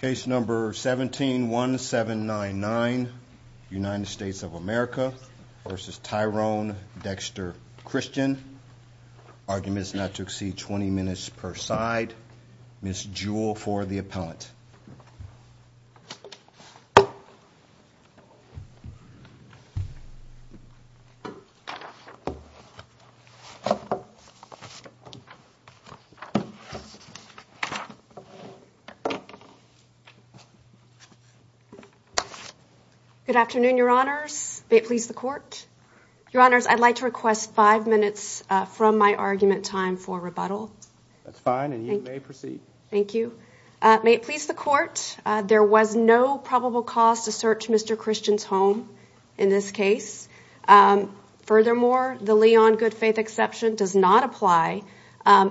Case number 171799 United States of America v. Tyrone Dexter Christian Arguments not to exceed 20 minutes per side. Ms. Jewell for the appellant. Good afternoon, your honors. May it please the court. Your honors, I'd like to request five minutes from my argument time for rebuttal. That's fine, and you may proceed. Thank you. May it please the court, there was no probable cause to search Mr. Christian's home in this case. Furthermore, the Leon good faith exception does not apply.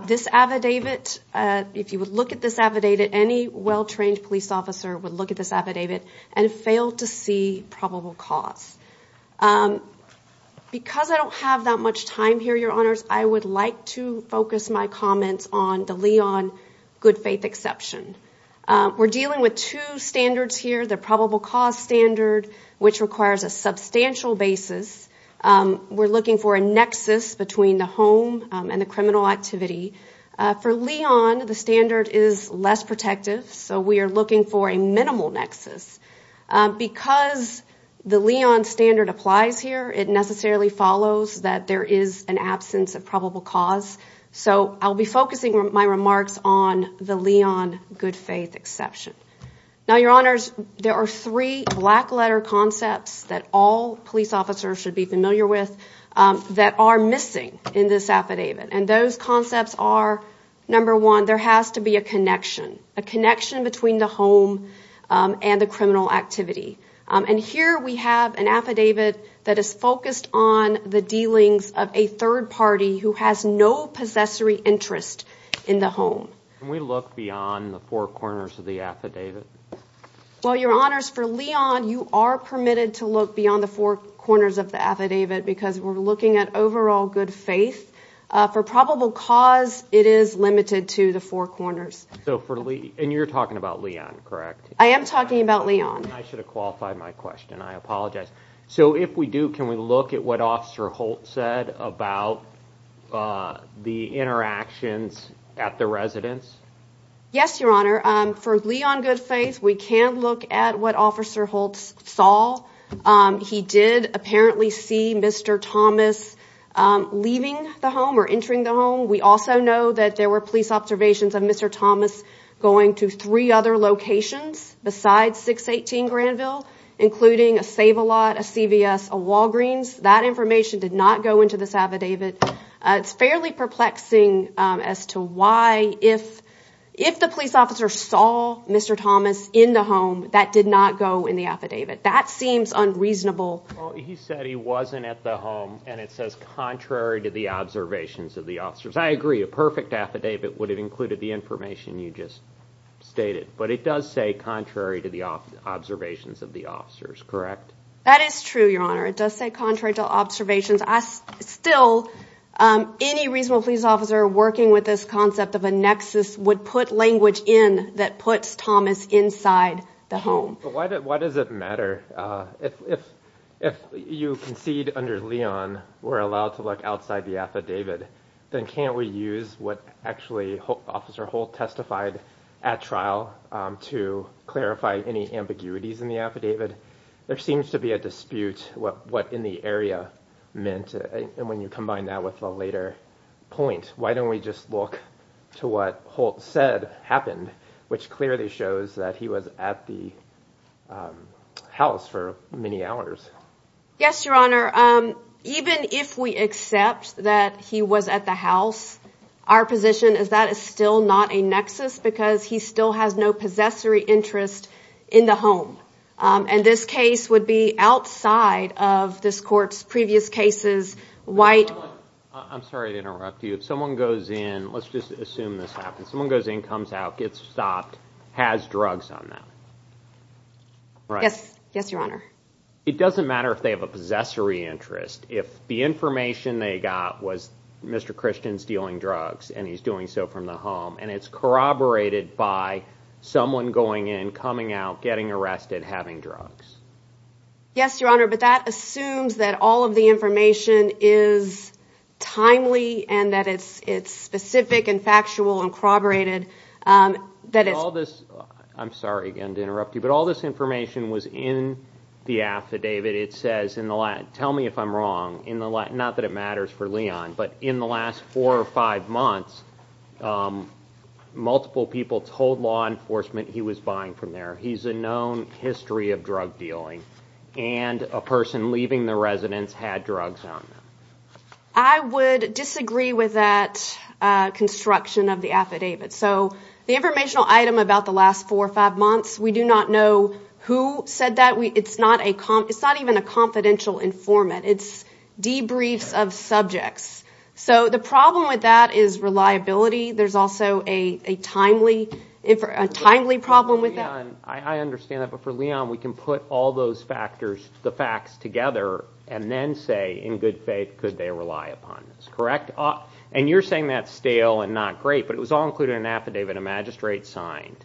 This affidavit, if you would look at this affidavit, any well-trained police officer would look at this affidavit and fail to see probable cause. Because I don't have that much time here, your honors, I would like to focus my comments on the Leon good faith exception. We're dealing with two standards here, the probable cause standard, which requires a substantial basis. We're looking for a nexus between the home and the criminal activity. For Leon, the standard is less protective, so we are looking for a minimal nexus. Because the Leon standard applies here, it necessarily follows that there is an absence of probable cause. So I'll be focusing my remarks on the Leon good faith exception. Now, your honors, there are three black letter concepts that all police officers should be familiar with that are the connection. A connection between the home and the criminal activity. And here we have an affidavit that is focused on the dealings of a third party who has no possessory interest in the home. Can we look beyond the four corners of the affidavit? Well, your honors, for Leon, you are permitted to look beyond the four corners of the affidavit because we're looking at overall good faith. For probable cause, it is limited to the four corners. And you're talking about Leon, correct? I am talking about Leon. I should have qualified my question. I apologize. So if we do, can we look at what Officer Holt said about the interactions at the residence? Yes, your honor. For Leon good faith, we can look at what Officer Holt saw. He did apparently see Mr. Thomas leaving the home or entering the home. We also know that there were police observations of Mr. Thomas going to three other locations besides 618 Granville, including a Save-A-Lot, a CVS, a Walgreens. That information did not go into this affidavit. It's fairly perplexing as to why if the police officer saw Mr. Thomas in the home, that did not go in the affidavit. That seems unreasonable. He said he wasn't at the home and it says contrary to the observations of the officers. I agree, a perfect affidavit would have included the information you just stated. But it does say contrary to the observations of the officers, correct? That is true, your honor. It does say contrary to observations. Still, any reasonable police officer working with this concept of a nexus would put language in that puts Thomas inside the home. Why does it matter? If you concede under Leon we're allowed to look outside the affidavit, then can't we use what actually Officer Holt testified at trial to clarify any ambiguities in the affidavit? There seems to be a dispute what in the area meant and when you combine that with a later point, why don't we just look to what Holt said happened, which clearly shows that he was at the house for many hours. Yes, your honor. Even if we accept that he was at the house, our position is that is still not a nexus because he still has no possessory interest in the home. And this case would be outside of this court's previous cases. I'm sorry to interrupt you. If someone goes in, let's just assume this happens. Someone goes in, comes out, gets stopped, has drugs on them. Yes, your honor. It doesn't matter if they have a possessory interest. If the information they got was Mr. Christian's dealing drugs and he's doing so from the home and it's corroborated by someone going in, coming out, getting arrested, having drugs. Yes, your honor. But that assumes that all of the information is timely and that it's specific and factual and corroborated. I'm sorry again to interrupt you, but all this information was in the affidavit. It says, tell me if I'm wrong, not that it matters for Leon, but in the last four or five months, multiple people told law enforcement he was buying from there. He's a known history of drug dealing and a person leaving the residence had drugs on them. I would disagree with that construction of the affidavit. So the informational item about the last four or five months, we do not know who said that. It's not even a confidential informant. It's debriefs of subjects. So the problem with that is reliability. There's also a timely problem with that. I understand that, but for Leon, we can put all those factors, the facts together and then say, in good faith, could they rely upon this, correct? And you're saying that's stale and not great, but it was all included in an affidavit a magistrate signed.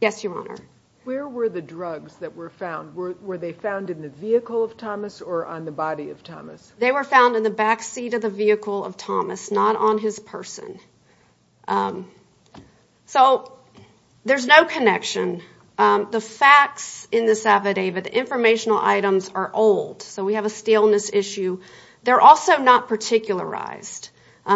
Yes, your honor. Where were the drugs that were found? Were they found in the vehicle of Thomas or on the body of Thomas? They were found in the backseat of the vehicle of Thomas, not on his person. So there's no connection. The facts in this affidavit, the informational items are old. So we have a staleness issue. They're also not particularized.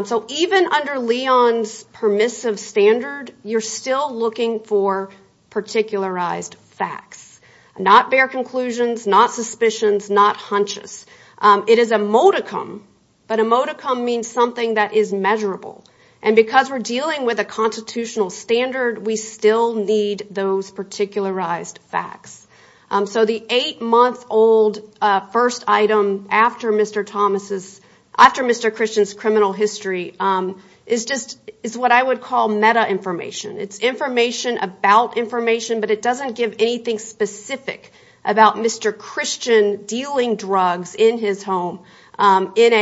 So even under Leon's permissive standard, you're still looking for particularized facts, not bare conclusions, not suspicions, not hunches. It is a modicum, but a modicum means something that is measurable. And because we're dealing with a constitutional standard, we still need those particularized facts. So the eight-month-old first item after Mr. Christian's criminal history is what I would call meta-information. It's information about information, but it doesn't give anything specific about Mr. Christian dealing drugs in his home in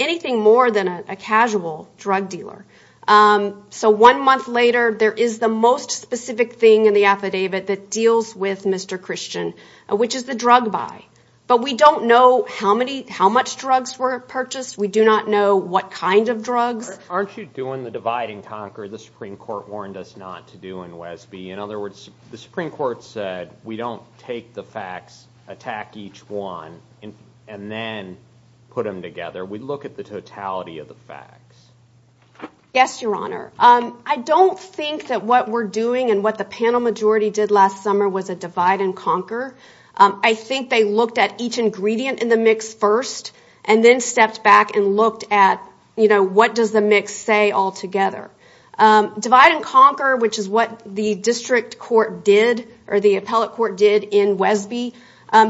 anything more than a casual drug dealer. So one month later, there is the most specific thing in the affidavit that deals with Mr. Christian, which is the drug buy. But we don't know how much drugs were purchased. We do not know what kind of drugs. Aren't you doing the divide and conquer the Supreme Court said we don't take the facts, attack each one, and then put them together. We look at the totality of the facts. Yes, Your Honor. I don't think that what we're doing and what the panel majority did last summer was a divide and conquer. I think they looked at each ingredient in the mix first and then stepped back and looked at what does the mix say all together. Divide and conquer, which is what the district court did or the appellate court did in Wesby,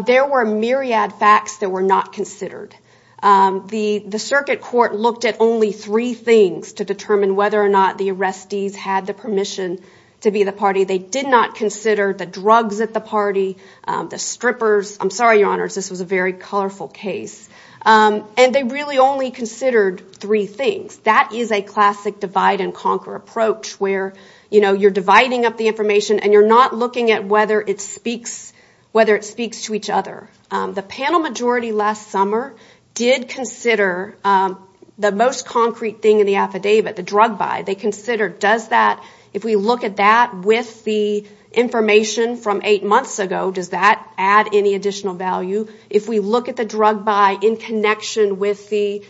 there were myriad facts that were not considered. The circuit court looked at only three things to determine whether or not the arrestees had the permission to be the party. They did not consider the drugs at the party, the strippers. I'm sorry, Your Honors, this was a very colorful case. And they really only considered three things. That is a classic divide and conquer approach where you're dividing up the information and you're not looking at whether it speaks to each other. The panel majority last summer did consider the most concrete thing in the affidavit, the drug buy. They considered does that, if we look at that with the information from eight months ago, does that add any additional value? If we look at the drug buy in connection with the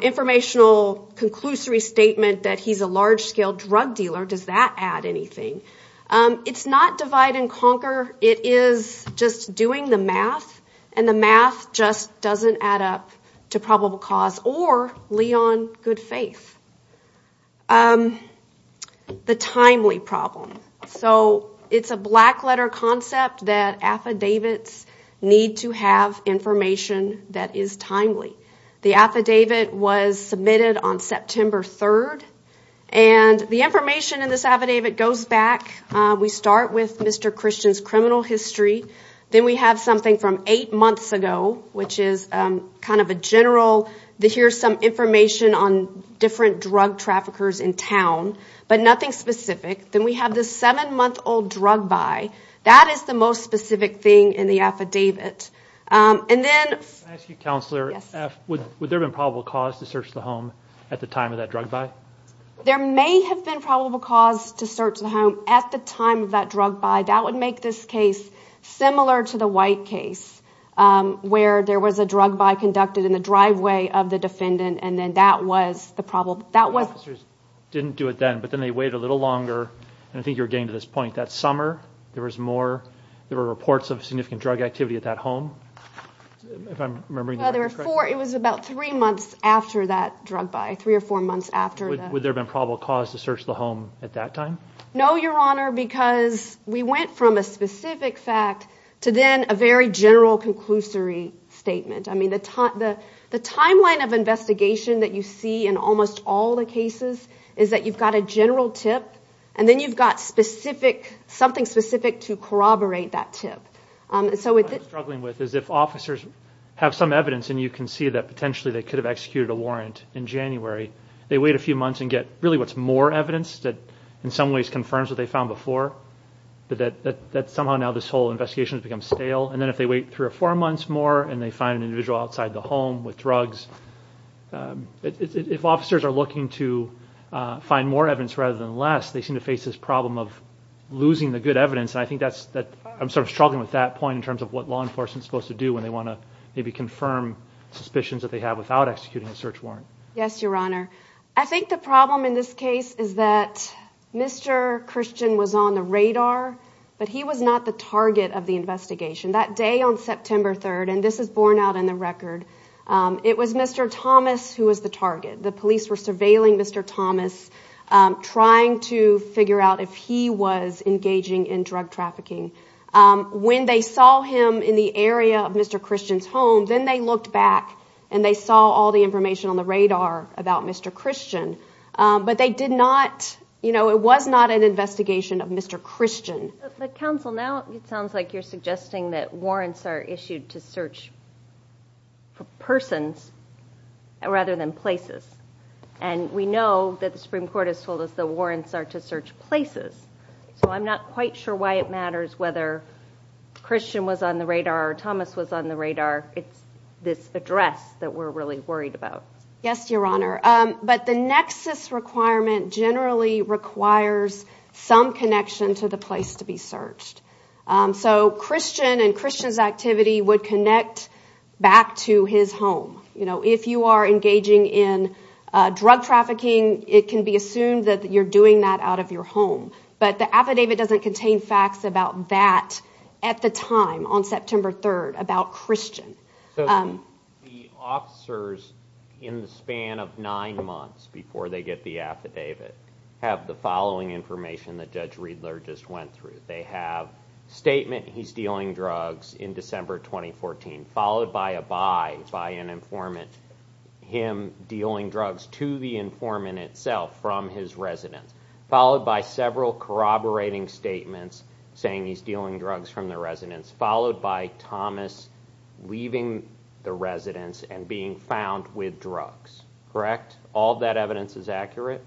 informational conclusory statement that he's a large-scale drug dealer, does that add anything? It's not divide and conquer. It is just doing the math and the math just doesn't add up to probable cause or lie on good faith. The timely problem. So it's a black letter concept that affidavits need to have information that is timely. The affidavit was submitted on September 3rd. And the information in this affidavit goes back. We start with Mr. Christian's criminal history. Then we have something from eight months ago, which is kind of a general, here's some information on different drug traffickers in town, but nothing specific. Then we have this seven specific thing in the affidavit. And then... Can I ask you, Counselor, would there have been probable cause to search the home at the time of that drug buy? There may have been probable cause to search the home at the time of that drug buy. That would make this case similar to the white case where there was a drug buy conducted in the driveway of the defendant. And then that was the problem. The officers didn't do it then, but then they waited a little longer. And I think you're there were reports of significant drug activity at that home. It was about three months after that drug buy, three or four months after. Would there have been probable cause to search the home at that time? No, Your Honor, because we went from a specific fact to then a very general conclusory statement. I mean, the timeline of investigation that you see in almost all the cases is that you've got a general tip, and then you've got something specific to corroborate that tip. What I'm struggling with is if officers have some evidence and you can see that potentially they could have executed a warrant in January, they wait a few months and get really what's more evidence that in some ways confirms what they found before, that somehow now this whole investigation has become stale. And then if they wait three or four months more and they find an to find more evidence rather than less, they seem to face this problem of losing the good evidence. And I think that's that I'm sort of struggling with that point in terms of what law enforcement is supposed to do when they want to maybe confirm suspicions that they have without executing a search warrant. Yes, Your Honor. I think the problem in this case is that Mr. Christian was on the radar, but he was not the target of the investigation that day on September 3rd, and this is borne out in the record. It was Mr. Thomas who was the target. The police were surveilling Mr. Thomas, trying to figure out if he was engaging in drug trafficking. When they saw him in the area of Mr. Christian's home, then they looked back and they saw all the information on the radar about Mr. Christian, but they did not, you know, it was not an investigation of Mr. Christian. But counsel, now it sounds like you're suggesting that warrants are issued to search persons rather than places, and we know that the Supreme Court has told us the warrants are to search places, so I'm not quite sure why it matters whether Christian was on the radar or Thomas was on the radar. It's this address that we're really worried about. Yes, Your Honor, but the nexus requirement generally requires some connection to the place to be searched, so Christian and Christian's activity would connect back to his home. You know, if you are engaging in drug trafficking, it can be assumed that you're doing that out of your home, but the affidavit doesn't contain facts about that at the time on September 3rd, about Christian. So the officers, in the span of nine months before they get the affidavit, have the following information that Judge Riedler just went through. They have statement he's dealing drugs in December 2014, followed by a buy by an informant, him dealing drugs to the informant itself from his residence, followed by several corroborating statements saying he's dealing drugs from the residence, followed by Thomas leaving the residence and being found with drugs, correct? All that evidence is accurate?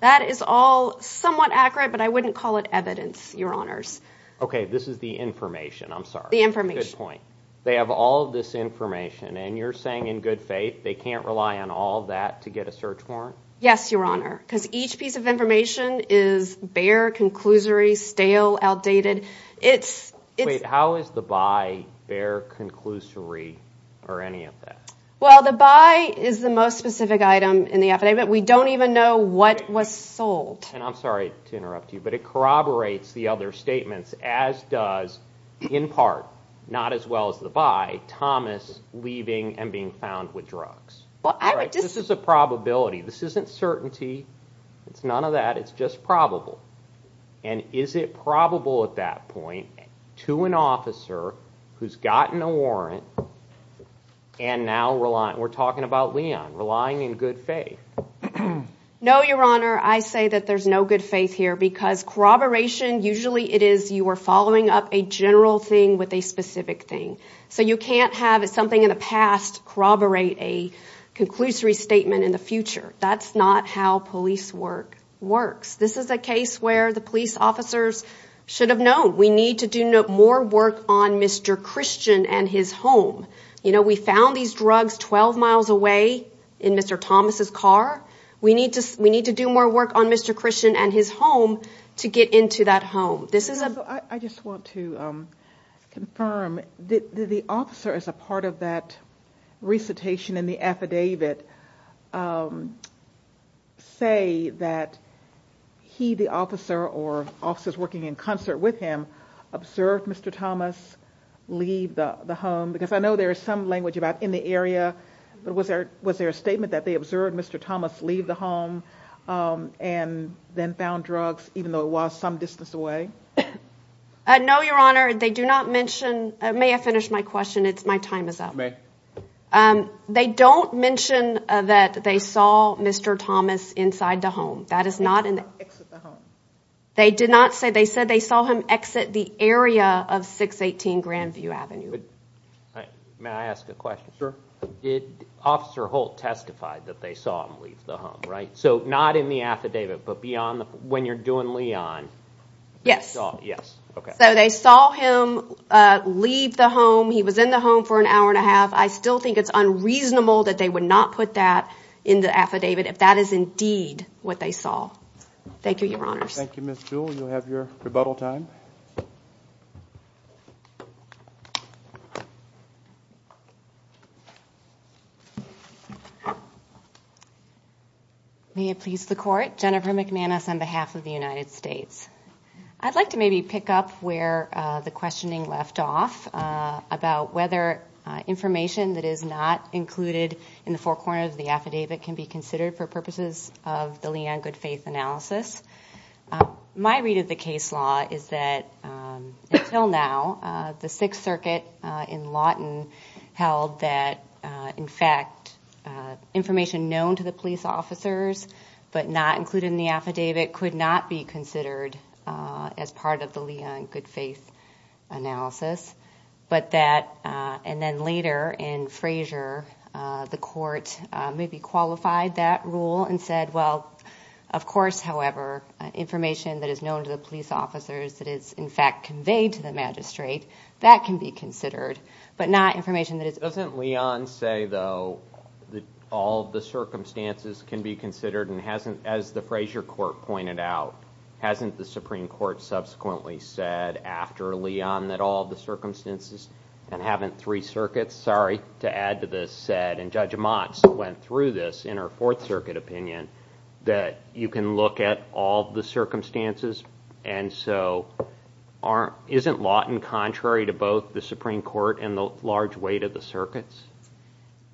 That is all somewhat accurate, but I wouldn't call it evidence, Your Honors. Okay, this is the information, I'm sorry. The information. Good point. They have all this information, and you're saying in good faith they can't rely on all that to get a search warrant? Yes, Your Honor, because each piece of information is bare, conclusory, stale, outdated. Wait, how is the buy bare, conclusory, or any of that? Well, the buy is the most specific item in the affidavit. We don't even know what was sold. And I'm sorry to interrupt you, but it corroborates the other statements, as does, in part, not as well as the buy, Thomas leaving and being found with drugs. This is a it's just probable. And is it probable at that point to an officer who's gotten a warrant and now we're talking about Leon, relying in good faith? No, Your Honor, I say that there's no good faith here because corroboration, usually it is you are following up a general thing with a specific thing. So you can't have something in the past corroborate a conclusory statement in the future. That's not how police work works. This is a case where the police officers should have known we need to do more work on Mr. Christian and his home. You know, we found these drugs 12 miles away in Mr. Thomas's car. We need to we need to do more work on Mr. Christian and his home to get into that home. I just want to confirm that the officer is a part of that recitation and the affidavit say that he, the officer or officers working in concert with him, observed Mr. Thomas leave the home? Because I know there is some language about in the area. But was there was there a statement that they observed Mr. Thomas leave the home and then found drugs, even though it was some distance away? No, Your Honor, they do not mention. May I finish my question? It's my time is up. Um, they don't mention that they saw Mr. Thomas inside the home. That is not in the they did not say they said they saw him exit the area of 618 Grandview Avenue. May I ask a question, sir? Did Officer Holt testify that they saw him leave the home, right? So not in the affidavit, but beyond when you're doing Leon. Yes. Yes. So they saw him leave the home. He was in the home for an hour and a half. I still think it's unreasonable that they would not put that in the affidavit if that is indeed what they saw. Thank you, Your Honor. Thank you, Ms. Jewell. You'll have your rebuttal time. May it please the court. Jennifer McManus on behalf of the United States. I'd like to maybe pick up where the questioning left off about whether information that is not included in the forecorner of the affidavit can be considered for purposes of the Leon Good Faith analysis. My read of the case law is that until now, the Sixth Circuit in Lawton held that, in fact, information known to the police officers, but not included in the affidavit, could not be considered as part of the Leon Good Faith analysis. But that, and then later in Frazier, the court maybe qualified that rule and said, well, of course, however, information that is known to the police officers that is, in fact, conveyed to the magistrate, that can be considered, but not information that is... Doesn't Leon say, though, all the circumstances can be considered? And hasn't, as the Frazier court pointed out, hasn't the Supreme Court subsequently said after Leon that all the circumstances, and haven't three circuits, sorry, to add to this, said, and Judge Motz went through this in her Fourth Circuit opinion, that you can look at all the circumstances, and so isn't Lawton contrary to both the Supreme Court and the large weight of the circuits?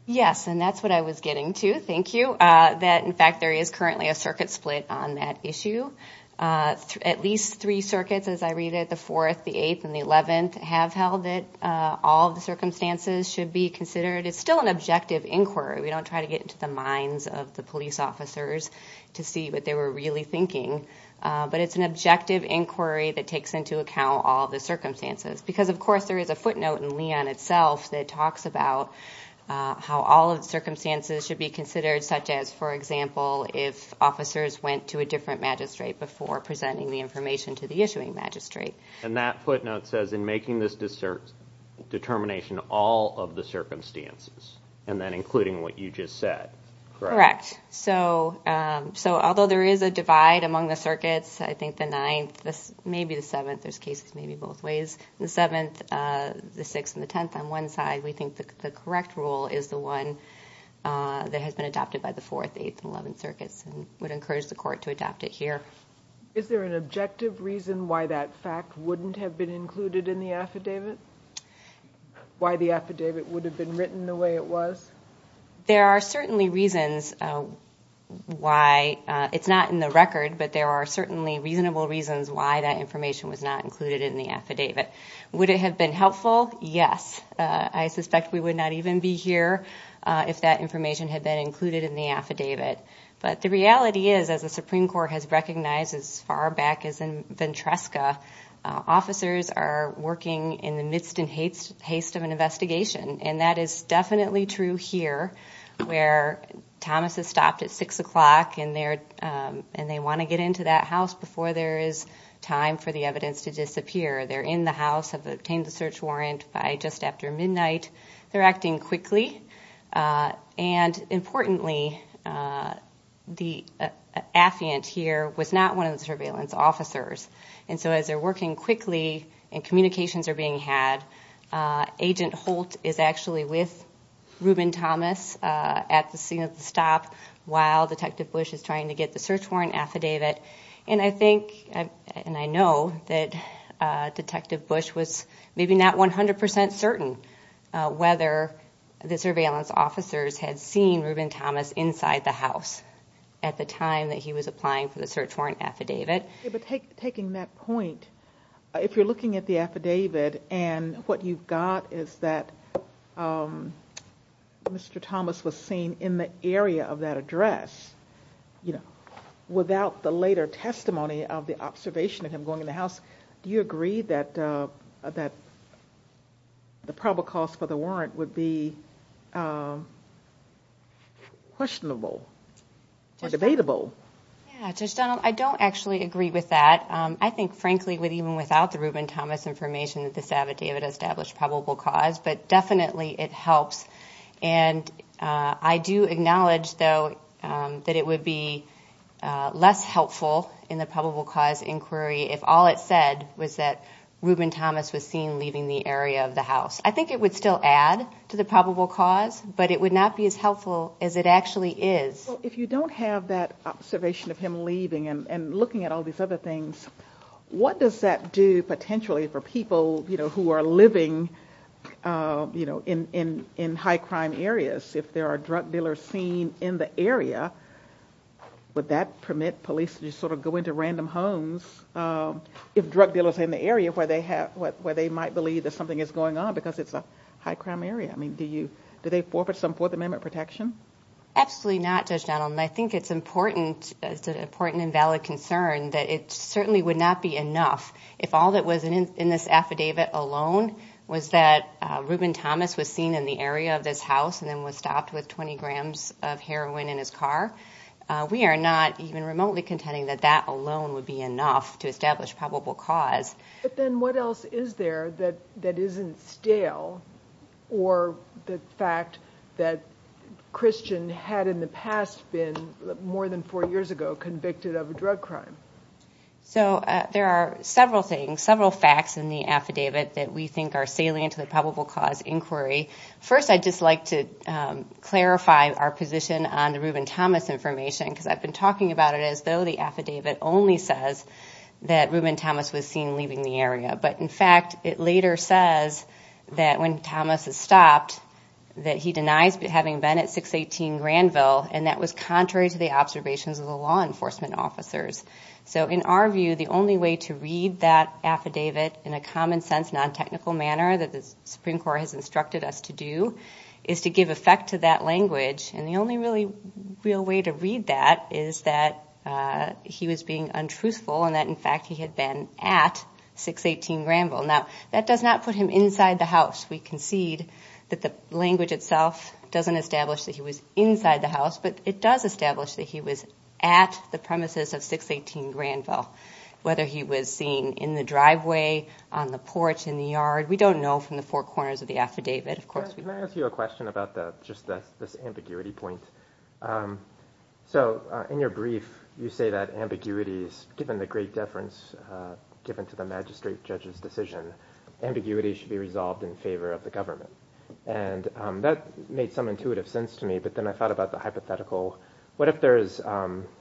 Yes, and that's what I was getting to. Thank you. That, in fact, there is currently a circuit split on that issue. At least three circuits, as I read it, the Fourth, the Eighth, and the Eleventh, have held that all the circumstances should be considered. It's still an objective inquiry. We don't try to get into the minds of the police officers to see what they were really thinking, but it's an objective inquiry that takes into account all the circumstances. Because, of course, there is a footnote in Leon itself that talks about how all of the circumstances should be considered, such as, for example, if officers went to a different magistrate before presenting the information to the issuing magistrate. And that footnote says, in making this determination, all of the circumstances, and then including what you just said, correct? Correct. So, although there is a divide among the circuits, I think the Ninth, maybe the Seventh, there's cases maybe both ways, the Seventh, the Sixth, and the Tenth, on one side, we think the correct rule is the one that has been adopted by the Fourth, Eighth, and Eleventh circuits, and would encourage the court to adopt it here. Is there an objective reason why that fact wouldn't have been included in the affidavit? Why the affidavit would have been written the way it was? There are certainly reasons why, it's not in the record, but there are certainly reasonable reasons why that information was not included in the affidavit. Would it have been helpful? Yes. I suspect we would not even be here if that information had been included in the affidavit. But the reality is, as the Supreme Court has recognized as far back as in Ventresca, officers are working in the midst and haste of an investigation. And that is definitely true here, where Thomas has stopped at six o'clock and they want to get into that house before there is time for the evidence to disappear. They're in the house, have obtained the search warrant by just after midnight, they're acting quickly. And importantly, the affiant here was not one of the surveillance officers. And so as they're working quickly and communications are being had, Agent Holt is actually with Reuben Thomas at the scene of the stop while Detective Bush is trying to get the search warrant affidavit. And I think, and I know that Detective Bush was maybe not 100% certain whether the surveillance officers had seen Reuben Thomas inside the house at the time that he was applying for the search warrant affidavit. Taking that point, if you're looking at the affidavit and what you've got is that Mr. Thomas was seen in the area of that address, you know, without the later testimony of the observation of him going in the house, do you agree that the probable cause for the warrant would be questionable or debatable? Yeah, Judge Donald, I don't actually agree with that. I think frankly, with even without the Reuben Thomas information that this affidavit established probable cause, but definitely it helps. And I do acknowledge though that it would be less helpful in the probable cause inquiry if all it said was that Reuben Thomas was seen leaving the area of the house. I think it would still add to the probable cause, but it would not be as helpful as it would be without the observation of him leaving and looking at all these other things. What does that do potentially for people, you know, who are living, you know, in high crime areas? If there are drug dealers seen in the area, would that permit police to just sort of go into random homes if drug dealers in the area where they have, where they might believe that something is going on because it's a high crime area? I mean, do you, do they forfeit some Fourth Amendment protection? Absolutely not, Judge Donald. And I think it's important, it's an important and valid concern that it certainly would not be enough if all that was in this affidavit alone was that Reuben Thomas was seen in the area of this house and then was stopped with 20 grams of heroin in his car. We are not even remotely contending that that alone would be enough to establish probable cause. But then what else is there that isn't stale or the fact that Christian had in the past been more than four years ago convicted of a drug crime? So there are several things, several facts in the affidavit that we think are salient to the probable cause inquiry. First, I'd just like to clarify our position on the Reuben Thomas information because I've been talking about it as though the affidavit only says that Reuben Thomas was in the area. But in fact, it later says that when Thomas is stopped, that he denies having been at 618 Granville. And that was contrary to the observations of the law enforcement officers. So in our view, the only way to read that affidavit in a common sense, non-technical manner that the Supreme Court has instructed us to do is to give effect to that language. And the only really real way to read that is that he was being untruthful and that in fact, he had been at 618 Granville. Now, that does not put him inside the house. We concede that the language itself doesn't establish that he was inside the house, but it does establish that he was at the premises of 618 Granville, whether he was seen in the driveway, on the porch, in the yard. We don't know from the four corners of the affidavit, of course. Can I ask you a question about just this ambiguity point? So in your brief, you say that ambiguity is given the great deference given to the magistrate judge's decision. Ambiguity should be resolved in favor of the government. And that made some intuitive sense to me, but then I thought about the hypothetical. What if there is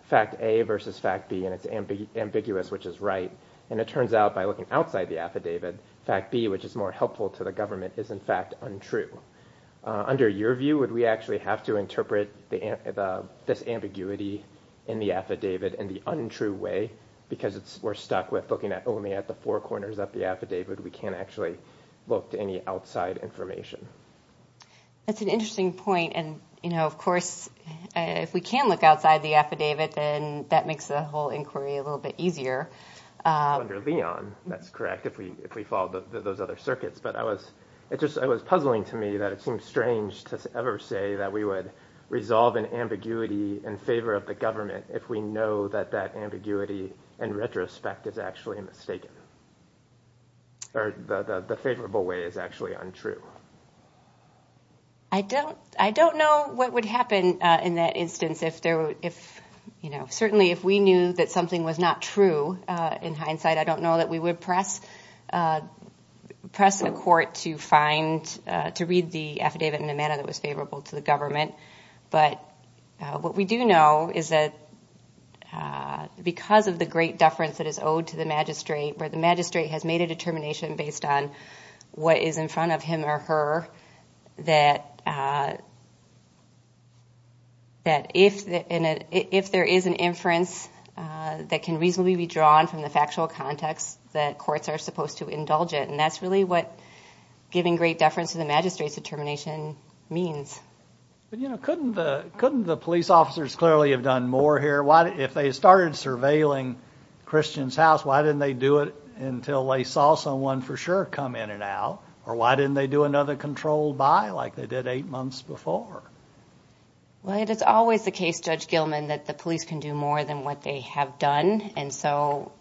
fact A versus fact B and it's ambiguous, which is right. And it turns out by looking outside the affidavit, fact B, which is more helpful to the government is in fact untrue. Under your view, would we have to interpret this ambiguity in the affidavit in the untrue way? Because we're stuck with looking at only at the four corners of the affidavit, we can't actually look to any outside information. That's an interesting point. And of course, if we can look outside the affidavit, then that makes the whole inquiry a little bit easier. Under Leon, that's correct, if we follow those other circuits. But it was puzzling to me that it seems strange to ever say that we would resolve an ambiguity in favor of the government if we know that that ambiguity in retrospect is actually mistaken, or the favorable way is actually untrue. I don't know what would happen in that instance. Certainly, if we knew that something was not true, in hindsight, I don't know that we would press a court to read the affidavit in a manner that was favorable to the government. But what we do know is that because of the great deference that is owed to the magistrate, where the magistrate has made a determination based on what is in front of him or her, that if there is an inference that can reasonably be drawn from the factual context, that courts are supposed to indulge it. And that's really what giving great deference to the magistrate's determination means. But, you know, couldn't the police officers clearly have done more here? If they started surveilling Christian's house, why didn't they do it until they saw someone for sure come in and out? Or why didn't they do another controlled by like they did eight months before? Well, it is always the case, Judge Gilman, that the police can do more than what they have done, and so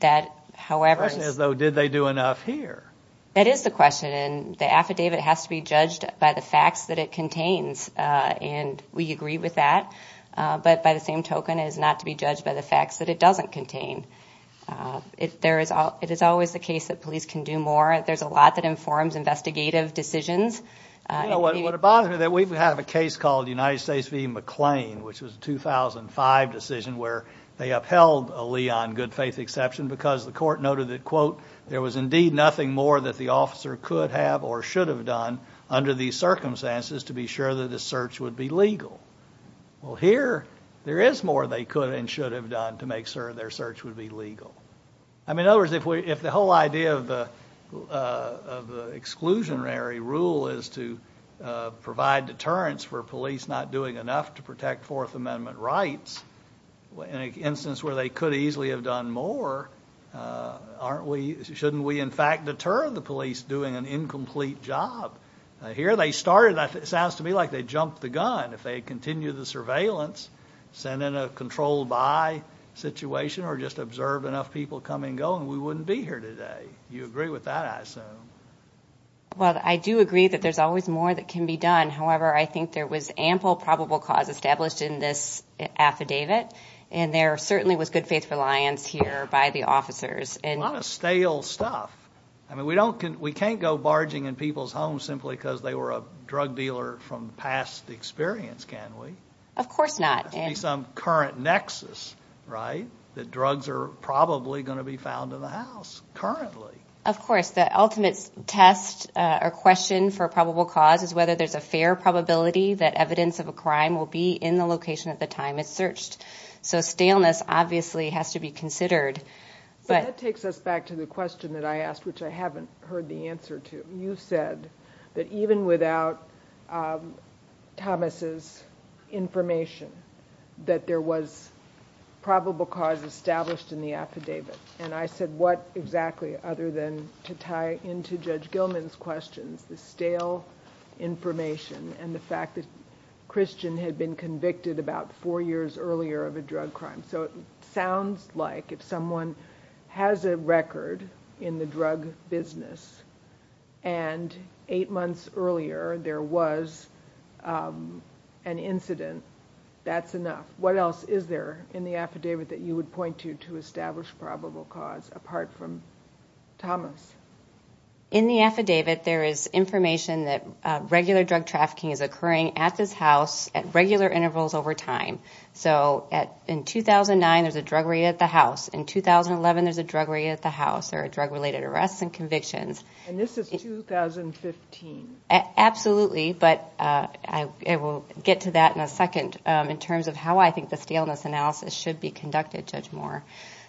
that, however... The question is, though, did they do enough here? That is the question, and the affidavit has to be judged by the facts that it contains, and we agree with that. But by the same token, it is not to be judged by the facts that it doesn't contain. It is always the case that police can do more. There's a lot that informs investigative decisions. You know what would bother me? That we have a case called United States v. McLean, which was a 2005 decision where they upheld a lee on good faith exception because the court noted that, quote, there was indeed nothing more that the officer could have or should have done under these circumstances to be sure that the search would be legal. Well, here there is more they could and should have done to make sure their search would be legal. I mean, in other words, if the whole idea of the exclusionary rule is to provide deterrence for police not doing enough to protect Fourth Amendment rights, in an instance where they could easily have done more, shouldn't we, in fact, deter the police doing an incomplete job? Here they started, it sounds to me like they jumped the gun. If they had continued the surveillance, sent in a controlled by situation or just observed enough people come and go, we wouldn't be here today. You agree with that, I assume? Well, I do agree that there's always more that can be done. However, I think there was ample probable cause established in this affidavit and there certainly was good faith reliance here by the officers. A lot of stale stuff. I mean, we can't go barging in past experience, can we? Of course not. There has to be some current nexus, right? That drugs are probably going to be found in the house currently. Of course. The ultimate test or question for probable cause is whether there's a fair probability that evidence of a crime will be in the location at the time it's searched. So staleness obviously has to be considered. But that takes us back to the question that I asked, which I haven't heard the answer to. You said that even without Thomas's information, that there was probable cause established in the affidavit. And I said what exactly other than to tie into Judge Gilman's questions, the stale information and the fact that Christian had been convicted about four years earlier of a drug crime. So it sounds like if someone has a record in the drug business and eight months earlier there was an incident, that's enough. What else is there in the affidavit that you would point to to establish probable cause apart from Thomas? In the affidavit, there is information that 2009 there's a drug raid at the house. In 2011 there's a drug raid at the house. There are drug-related arrests and convictions. And this is 2015? Absolutely. But I will get to that in a second in terms of how I think the staleness analysis should be conducted, Judge Moore.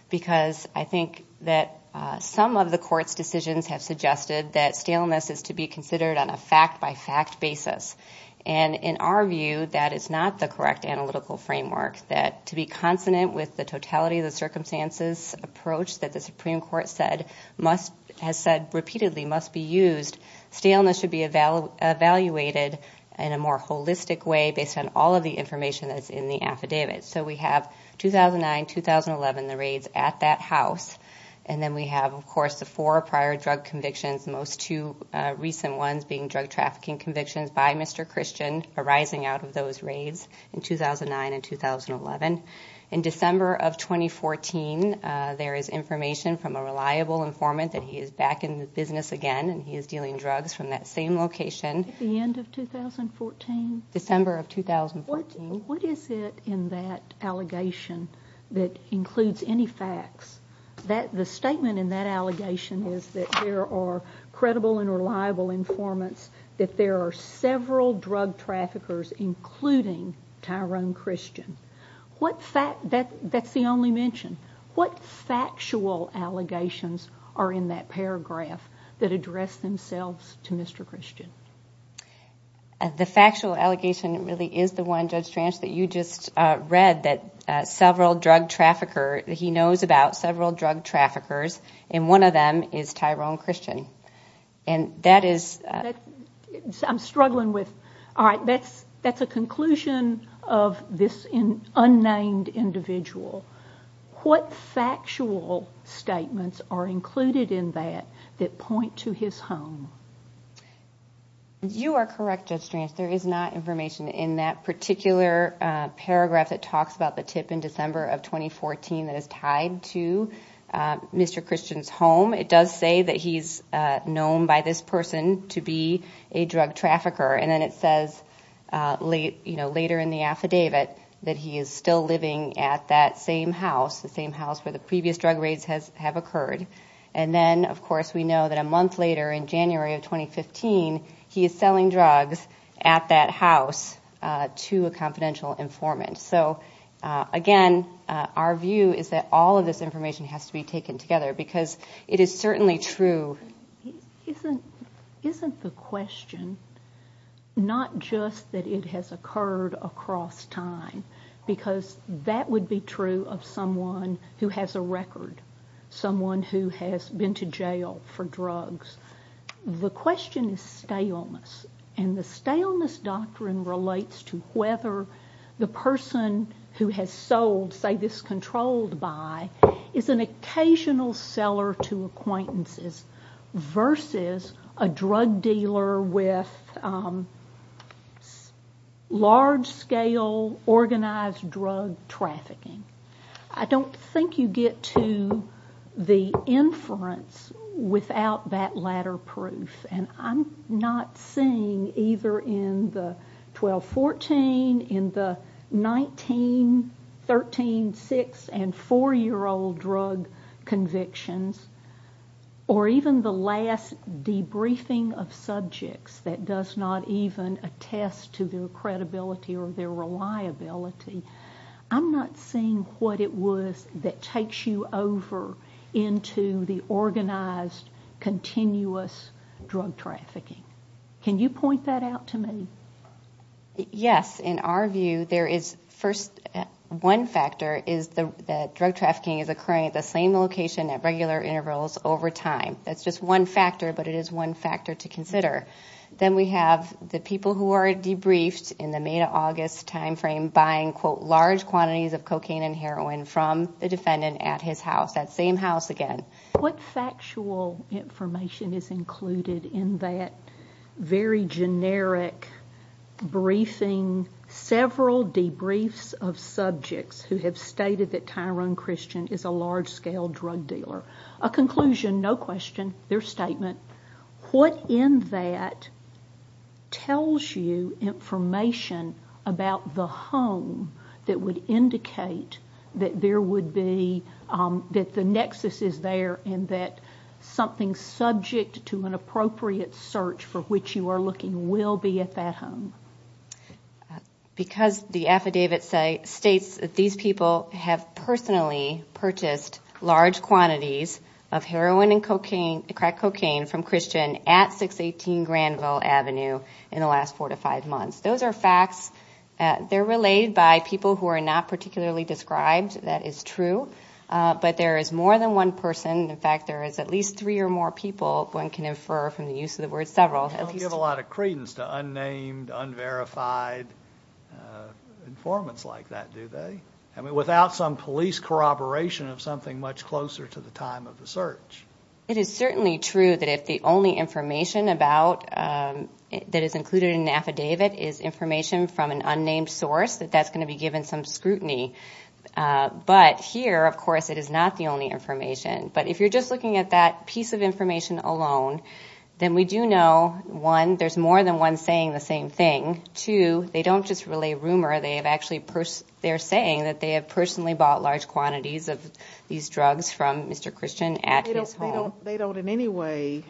Because I think that some of the court's decisions have suggested that staleness is to be considered on a fact-by-fact basis. And in our view, that is not the correct analytical framework that to be consonant with the totality of the circumstances approach that the Supreme Court has said repeatedly must be used. Staleness should be evaluated in a more holistic way based on all of the information that's in the affidavit. So we have 2009, 2011, the raids at that house. And then we have, of course, the four prior drug convictions, most two recent ones being drug In December of 2014, there is information from a reliable informant that he is back in business again and he is dealing drugs from that same location. At the end of 2014? December of 2014. What is it in that allegation that includes any facts? The statement in that allegation is that there are credible and reliable informants, that there are several drug traffickers, including Tyrone Christian. That's the only mention. What factual allegations are in that paragraph that address themselves to Mr. Christian? The factual allegation really is the one, Judge Trance, that you just read that several drug traffickers, he knows about several drug traffickers and one of them is Tyrone Christian. And that is... I'm struggling with... All right, that's a conclusion of this unnamed individual. What factual statements are included in that that point to his home? You are correct, Judge Trance, there is not information in that particular paragraph that talks about the tip in December of 2014 that is tied to Mr. Christian's home. It does say that he's known by this person to be a drug trafficker and then it says later in the affidavit that he is still living at that same house, the same house where the previous drug raids have occurred. And then, of course, we know that a month later in January of 2015, he is selling drugs at that house to a confidential informant. So again, our view is that all of this certainly true. Isn't the question not just that it has occurred across time? Because that would be true of someone who has a record, someone who has been to jail for drugs. The question is staleness. And the staleness doctrine relates to whether the person who has sold, say, this drug to his acquaintances versus a drug dealer with large-scale organized drug trafficking. I don't think you get to the inference without that latter proof. And I'm not seeing either in the 12-14, in the 19, 13, 6, and 4-year-old drug convictions, or even the last debriefing of subjects that does not even attest to their credibility or their reliability. I'm not seeing what it was that takes you over into the organized, continuous drug trafficking. Can you point that out to me? Yes. In our view, there is first one factor is that drug trafficking is occurring at the same location at regular intervals over time. That's just one factor, but it is one factor to consider. Then we have the people who are debriefed in the May-August time frame buying, quote, large quantities of cocaine and heroin from the defendant at his house, that same house again. What factual information is included in that very generic briefing, several debriefs of subjects who have stated that Tyrone Christian is a large-scale drug dealer? A conclusion, no question, their statement. What in that tells you information about the home that would indicate that the nexus is there and that something subject to an appropriate search for which you are looking will be at that home? Because the affidavit states that these people have personally purchased large quantities of heroin and crack cocaine from Christian at 618 Granville Avenue in the last four to five months. Those are facts. They're related by people who are not particularly described. That is true, but there is more than one person. In fact, there is at least three or more people one can infer from the use of the word several. They don't give a lot of credence to unnamed, unverified informants like that, do they? Without some police corroboration of something much closer to the time of the search. It is certainly true that if the only information that is included in an affidavit is information from an unnamed source, that that's going to be given some scrutiny. But here, of course, it is not the only information. But if you're just looking at that piece of information alone, then we do know, one, there's more than one saying the same thing. Two, they don't just relay rumor. They're saying that they have personally bought large quantities of these drugs from Mr. Christian at his home. They don't in any way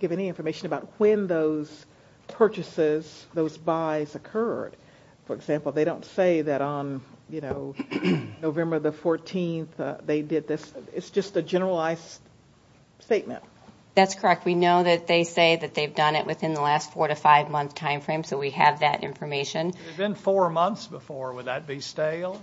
give any information about when those purchases, those buys occurred. For example, they don't say that on November the 14th they did this. It's just a generalized statement. That's correct. We know that they say that they've done it within the last four to five month time frame, so we have that information. If it had been four months before, would that be stale?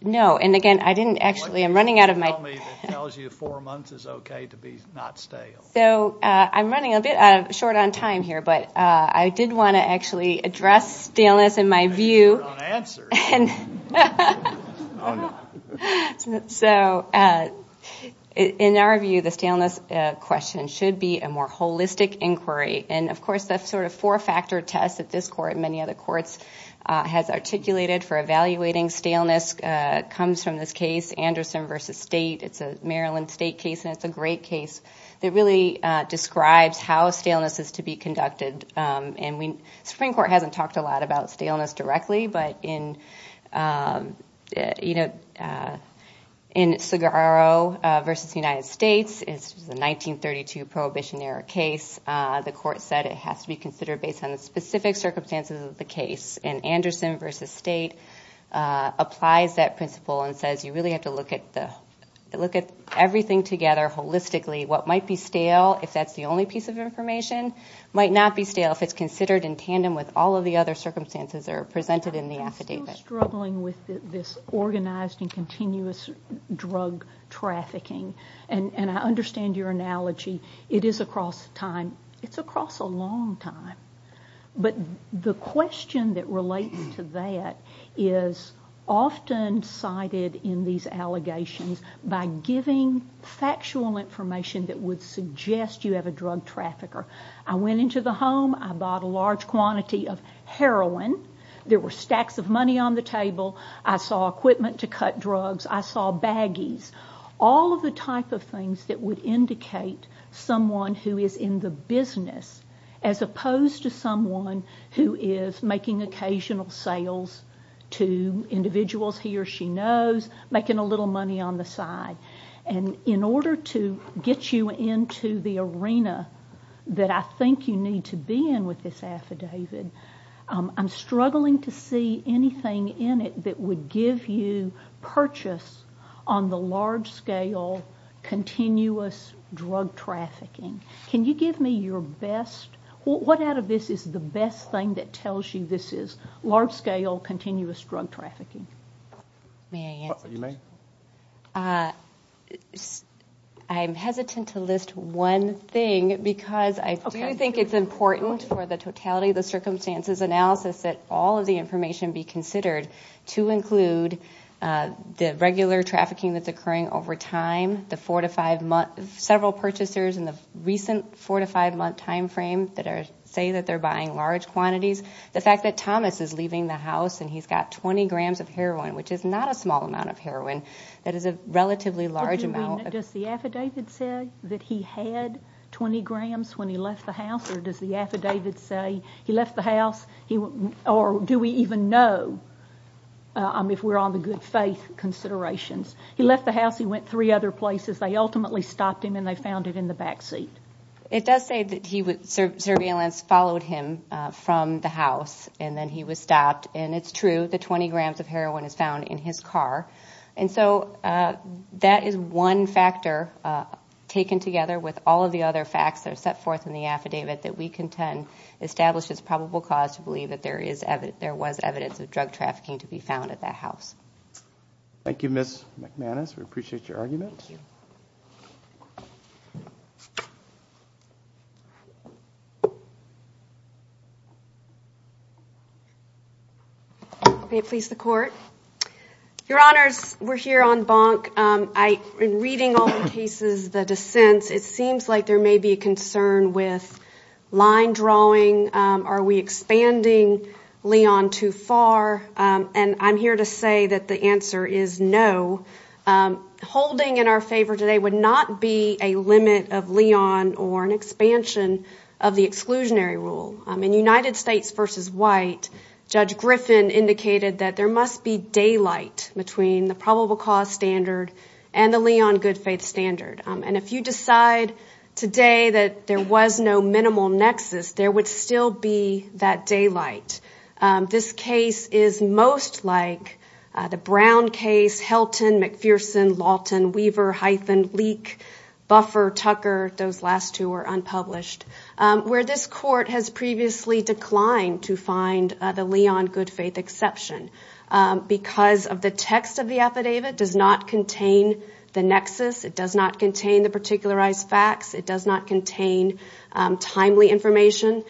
No, and again, I didn't actually, I'm running out of my... What do you have to tell me that tells you four months is okay to be not stale? So, I'm running a bit short on time here, but I did want to actually address staleness in my view. You're not answering. So, in our view, the staleness question should be a more holistic inquiry, and of course, the sort of four-factor test that this court and many other courts has articulated for evaluating staleness comes from this case, Anderson v. State. It's a Maryland State case, and it's a great case that really describes how staleness is to be conducted. Supreme Court hasn't talked a lot about staleness directly, but in Segarro v. United States, it's a 1932 Prohibition-era case. The court said it has to be considered based on the specific circumstances of the case, and Anderson v. State applies that principle and says you really have to look at everything together holistically. What might be stale, if that's the only piece of information, might not be stale if it's considered in tandem with all of the other circumstances that are presented in the affidavit. I'm still struggling with this organized and continuous drug trafficking, and I understand your analogy. It is across time. It's across a long time. But the question that relates to that is often cited in these allegations by giving factual information that would suggest you have a drug trafficker. I went into the home. I bought a large quantity of heroin. There were stacks of money on the table. I saw equipment to cut drugs. I saw baggies. All of the type of things that would indicate someone who is in the business, as opposed to someone who is making occasional sales to individuals he or she knows, making a little money on the side. In order to get you into the arena that I think you need to be in with this affidavit, I'm struggling to see anything in it that would give you purchase on the large-scale, continuous drug trafficking. Can you give me your best? What out of this is the best thing that tells you this is large-scale, continuous drug trafficking? I'm hesitant to list one thing because I do think it's important for the totality of the circumstances analysis that all of the information be considered to include the regular trafficking that's occurring over time, several purchasers in the recent four to five month time frame that say they're buying large quantities. The fact that Thomas is leaving the house and he's got 20 grams of heroin, which is not a small amount of heroin, that is a relatively large amount. Does the affidavit say that he had 20 grams when he left the house, or does the affidavit say he left the house, or do we even know if we're on the good faith considerations? He left the house, he went three other places, they ultimately stopped him and they found it in the backseat. It does say that surveillance followed him from the house and then he was stopped, and it's true that 20 grams of heroin is found in his car. That is one factor taken together with all of the other facts that are set forth in the affidavit that we contend establishes probable cause to believe that there was evidence of drug trafficking to be found at that house. Thank you, Ms. McManus. We appreciate your argument. May it please the court. Your Honors, we're here on bonk. In reading all the cases, the dissents, it seems like there may be a concern with line drawing. Are we expanding Leon too far? And I'm here to say that the answer is no. Holding in our favor today would not be a limit of Leon or an expansion of the exclusionary rule. In United States v. White, Judge Griffin indicated that there must be daylight between the probable cause standard and the Leon good faith standard. And if you decide today that there was no minimal nexus, there would still be that daylight. This case is most like the Brown case, Helton, McPherson, Lawton, Weaver, Hyphen, Leak, Buffer, Tucker. Those last two were unpublished where this court has previously declined to find the Leon good faith exception because of the text of the affidavit does not contain the nexus. It does not contain the particularized facts. It does not contain timely information.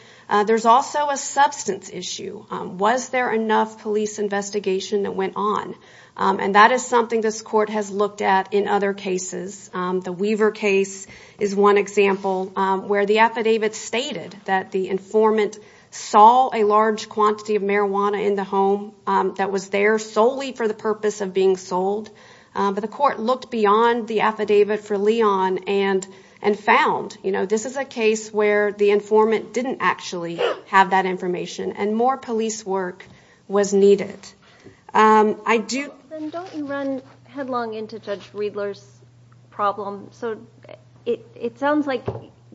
There's also a substance issue. Was there enough police investigation that went on? And that is something this court has looked at in other cases. The Weaver case is one example where the affidavit stated that the informant saw a large quantity of marijuana in the home that was there solely for the purpose of being sold. But the court looked beyond the affidavit for Leon and found this is a case where the informant didn't actually have that information and more police work was needed. Don't you run headlong into Judge Riedler's problem? So it sounds like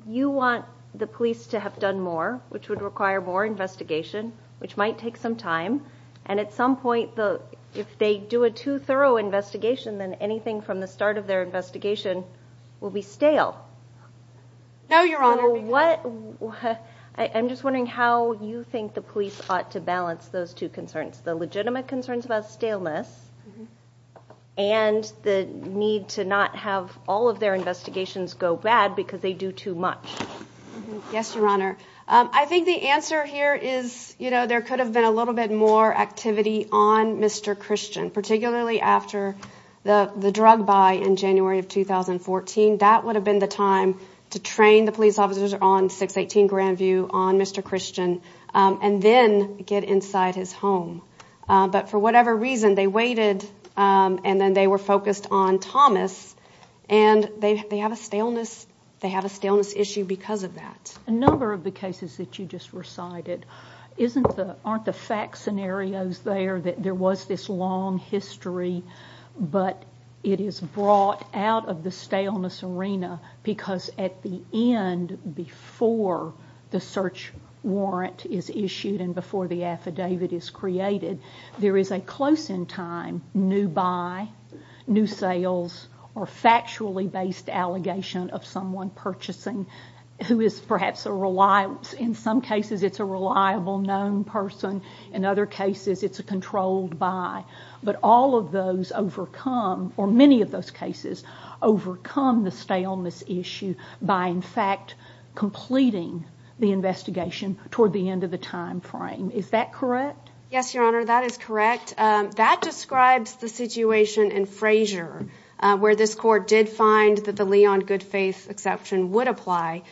you want the police to have done more, which would require more investigation, which might take some time. And at some point, if they do a too thorough investigation, then anything from the start of their investigation will be stale. No, Your Honor. What I'm just wondering how you think the police ought to balance those two concerns, the legitimate concerns about staleness and the need to not have all of their investigations go bad because they do too much. Yes, Your Honor. I think the answer here is, you know, there could have been a little bit more activity on Mr. Christian, particularly after the drug buy in January of 2014. That would have been the time to train the police officers on 618 Grandview on Mr. Christian and then get inside his home. But for whatever reason, they waited and then they were focused on Thomas and they have a staleness. They have a staleness issue because of that. In a number of the cases that you just recited, aren't the fact scenarios there that there was this long history, but it is brought out of the staleness arena because at the end, before the search warrant is issued and before the affidavit is created, there is a close in time new buy, new sales, or factually based allegation of someone purchasing who is perhaps a reliable, in some cases it's a reliable known person, in other cases it's a controlled buy. But all of those overcome, or many of those cases, overcome the staleness issue by in fact completing the investigation toward the end of the time frame. Is that correct? Yes, Your Honor, that is correct. That describes the situation in Frazier where this court did find that the Leon Goodfaith exception would apply.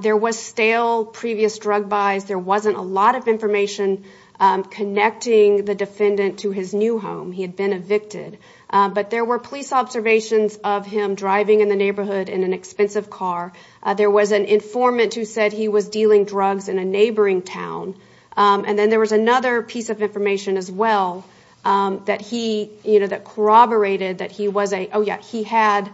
There was stale previous drug buys. There wasn't a lot of information connecting the defendant to his new home. He had been evicted. But there were police observations of him driving in the neighborhood in an expensive car. There was an informant who said he was dealing drugs in a neighboring town. And then there was another piece of information as well that corroborated that he had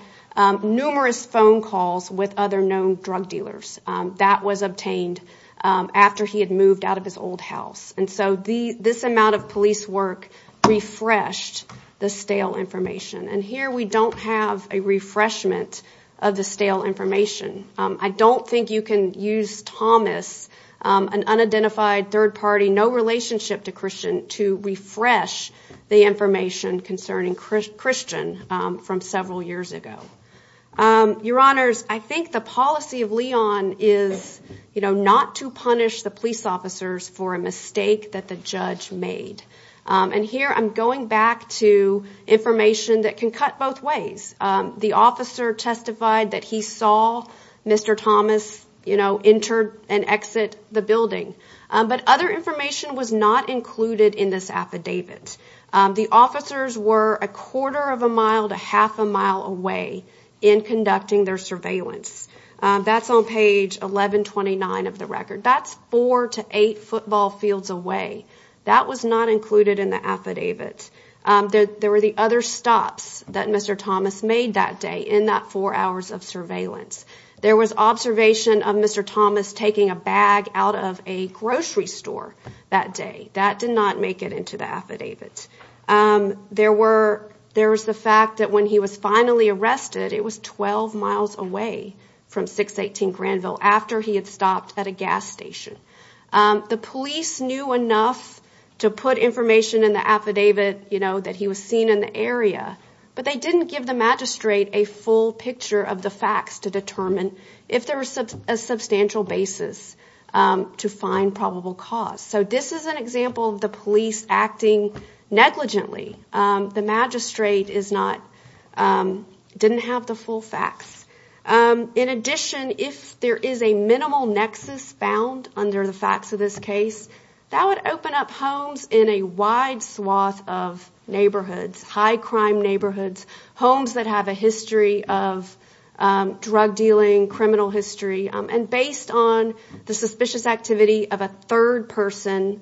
numerous phone calls with other known drug dealers. That was obtained after he had moved out of his old house. And so this amount of police work refreshed the stale information. And here we don't have a refreshment of the stale information. I don't think you can use Thomas, an unidentified third party, no relationship to Christian, to refresh the information concerning Christian from several years ago. Your Honors, I think the policy of Leon is not to punish the police officers for a mistake that the judge made. And here I'm going back to information that can cut both ways. The officer testified that he saw Mr. Thomas, you know, enter and exit the building. But other information was not included in this affidavit. The officers were a quarter of a mile to half a mile away in conducting their surveillance. That's on page 1129 of the record. That's four to eight football fields away. That was not included in the affidavit. There were the other stops that Mr. Thomas made that day in that four hours of surveillance. There was observation of Mr. Thomas taking a bag out of a grocery store that day. That did not make it into the affidavit. There were there was the fact that when he was finally arrested, it was 12 miles away from 618 Granville after he had stopped at a gas station. The police knew enough to put information in the affidavit, you know, that he was seen in the area. But they didn't give the magistrate a full picture of the facts to determine if there was a substantial basis to find probable cause. So this is an example of the police acting negligently. The magistrate is not didn't have the full facts. In addition, if there is a minimal nexus bound under the facts of this case that would open up homes in a wide swath of neighborhoods, high crime neighborhoods, homes that have a history of drug dealing, criminal history. And based on the suspicious activity of a third person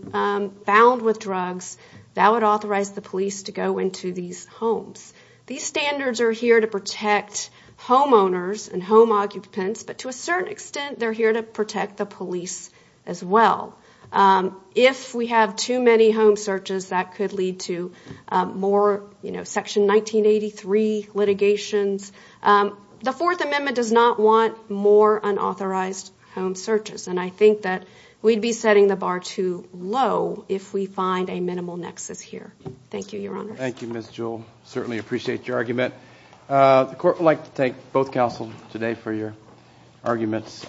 bound with drugs that would authorize the police to go into these homes. These standards are here to protect homeowners and home occupants. But to a certain extent, they're here to protect the police as well. If we have too many home searches, that could lead to more, you know, Section 1983 litigations. The Fourth Amendment does not want more unauthorized home searches. And I think that we'd be setting the bar too low if we find a minimal nexus here. Thank you, Your Honor. Thank you, Ms. Jewell. Certainly appreciate your argument. The court would like to thank both counsel today for your arguments.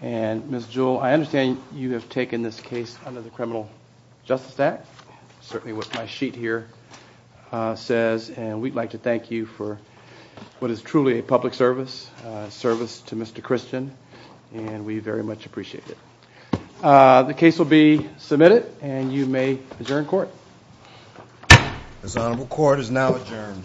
And, Ms. Jewell, I understand you have taken this case under the Criminal Justice Act. Certainly what my sheet here says. And we'd like to thank you for what is truly a public service, service to Mr. Christian. And we very much appreciate it. The case will be submitted. And you may adjourn court. This honorable court is now adjourned.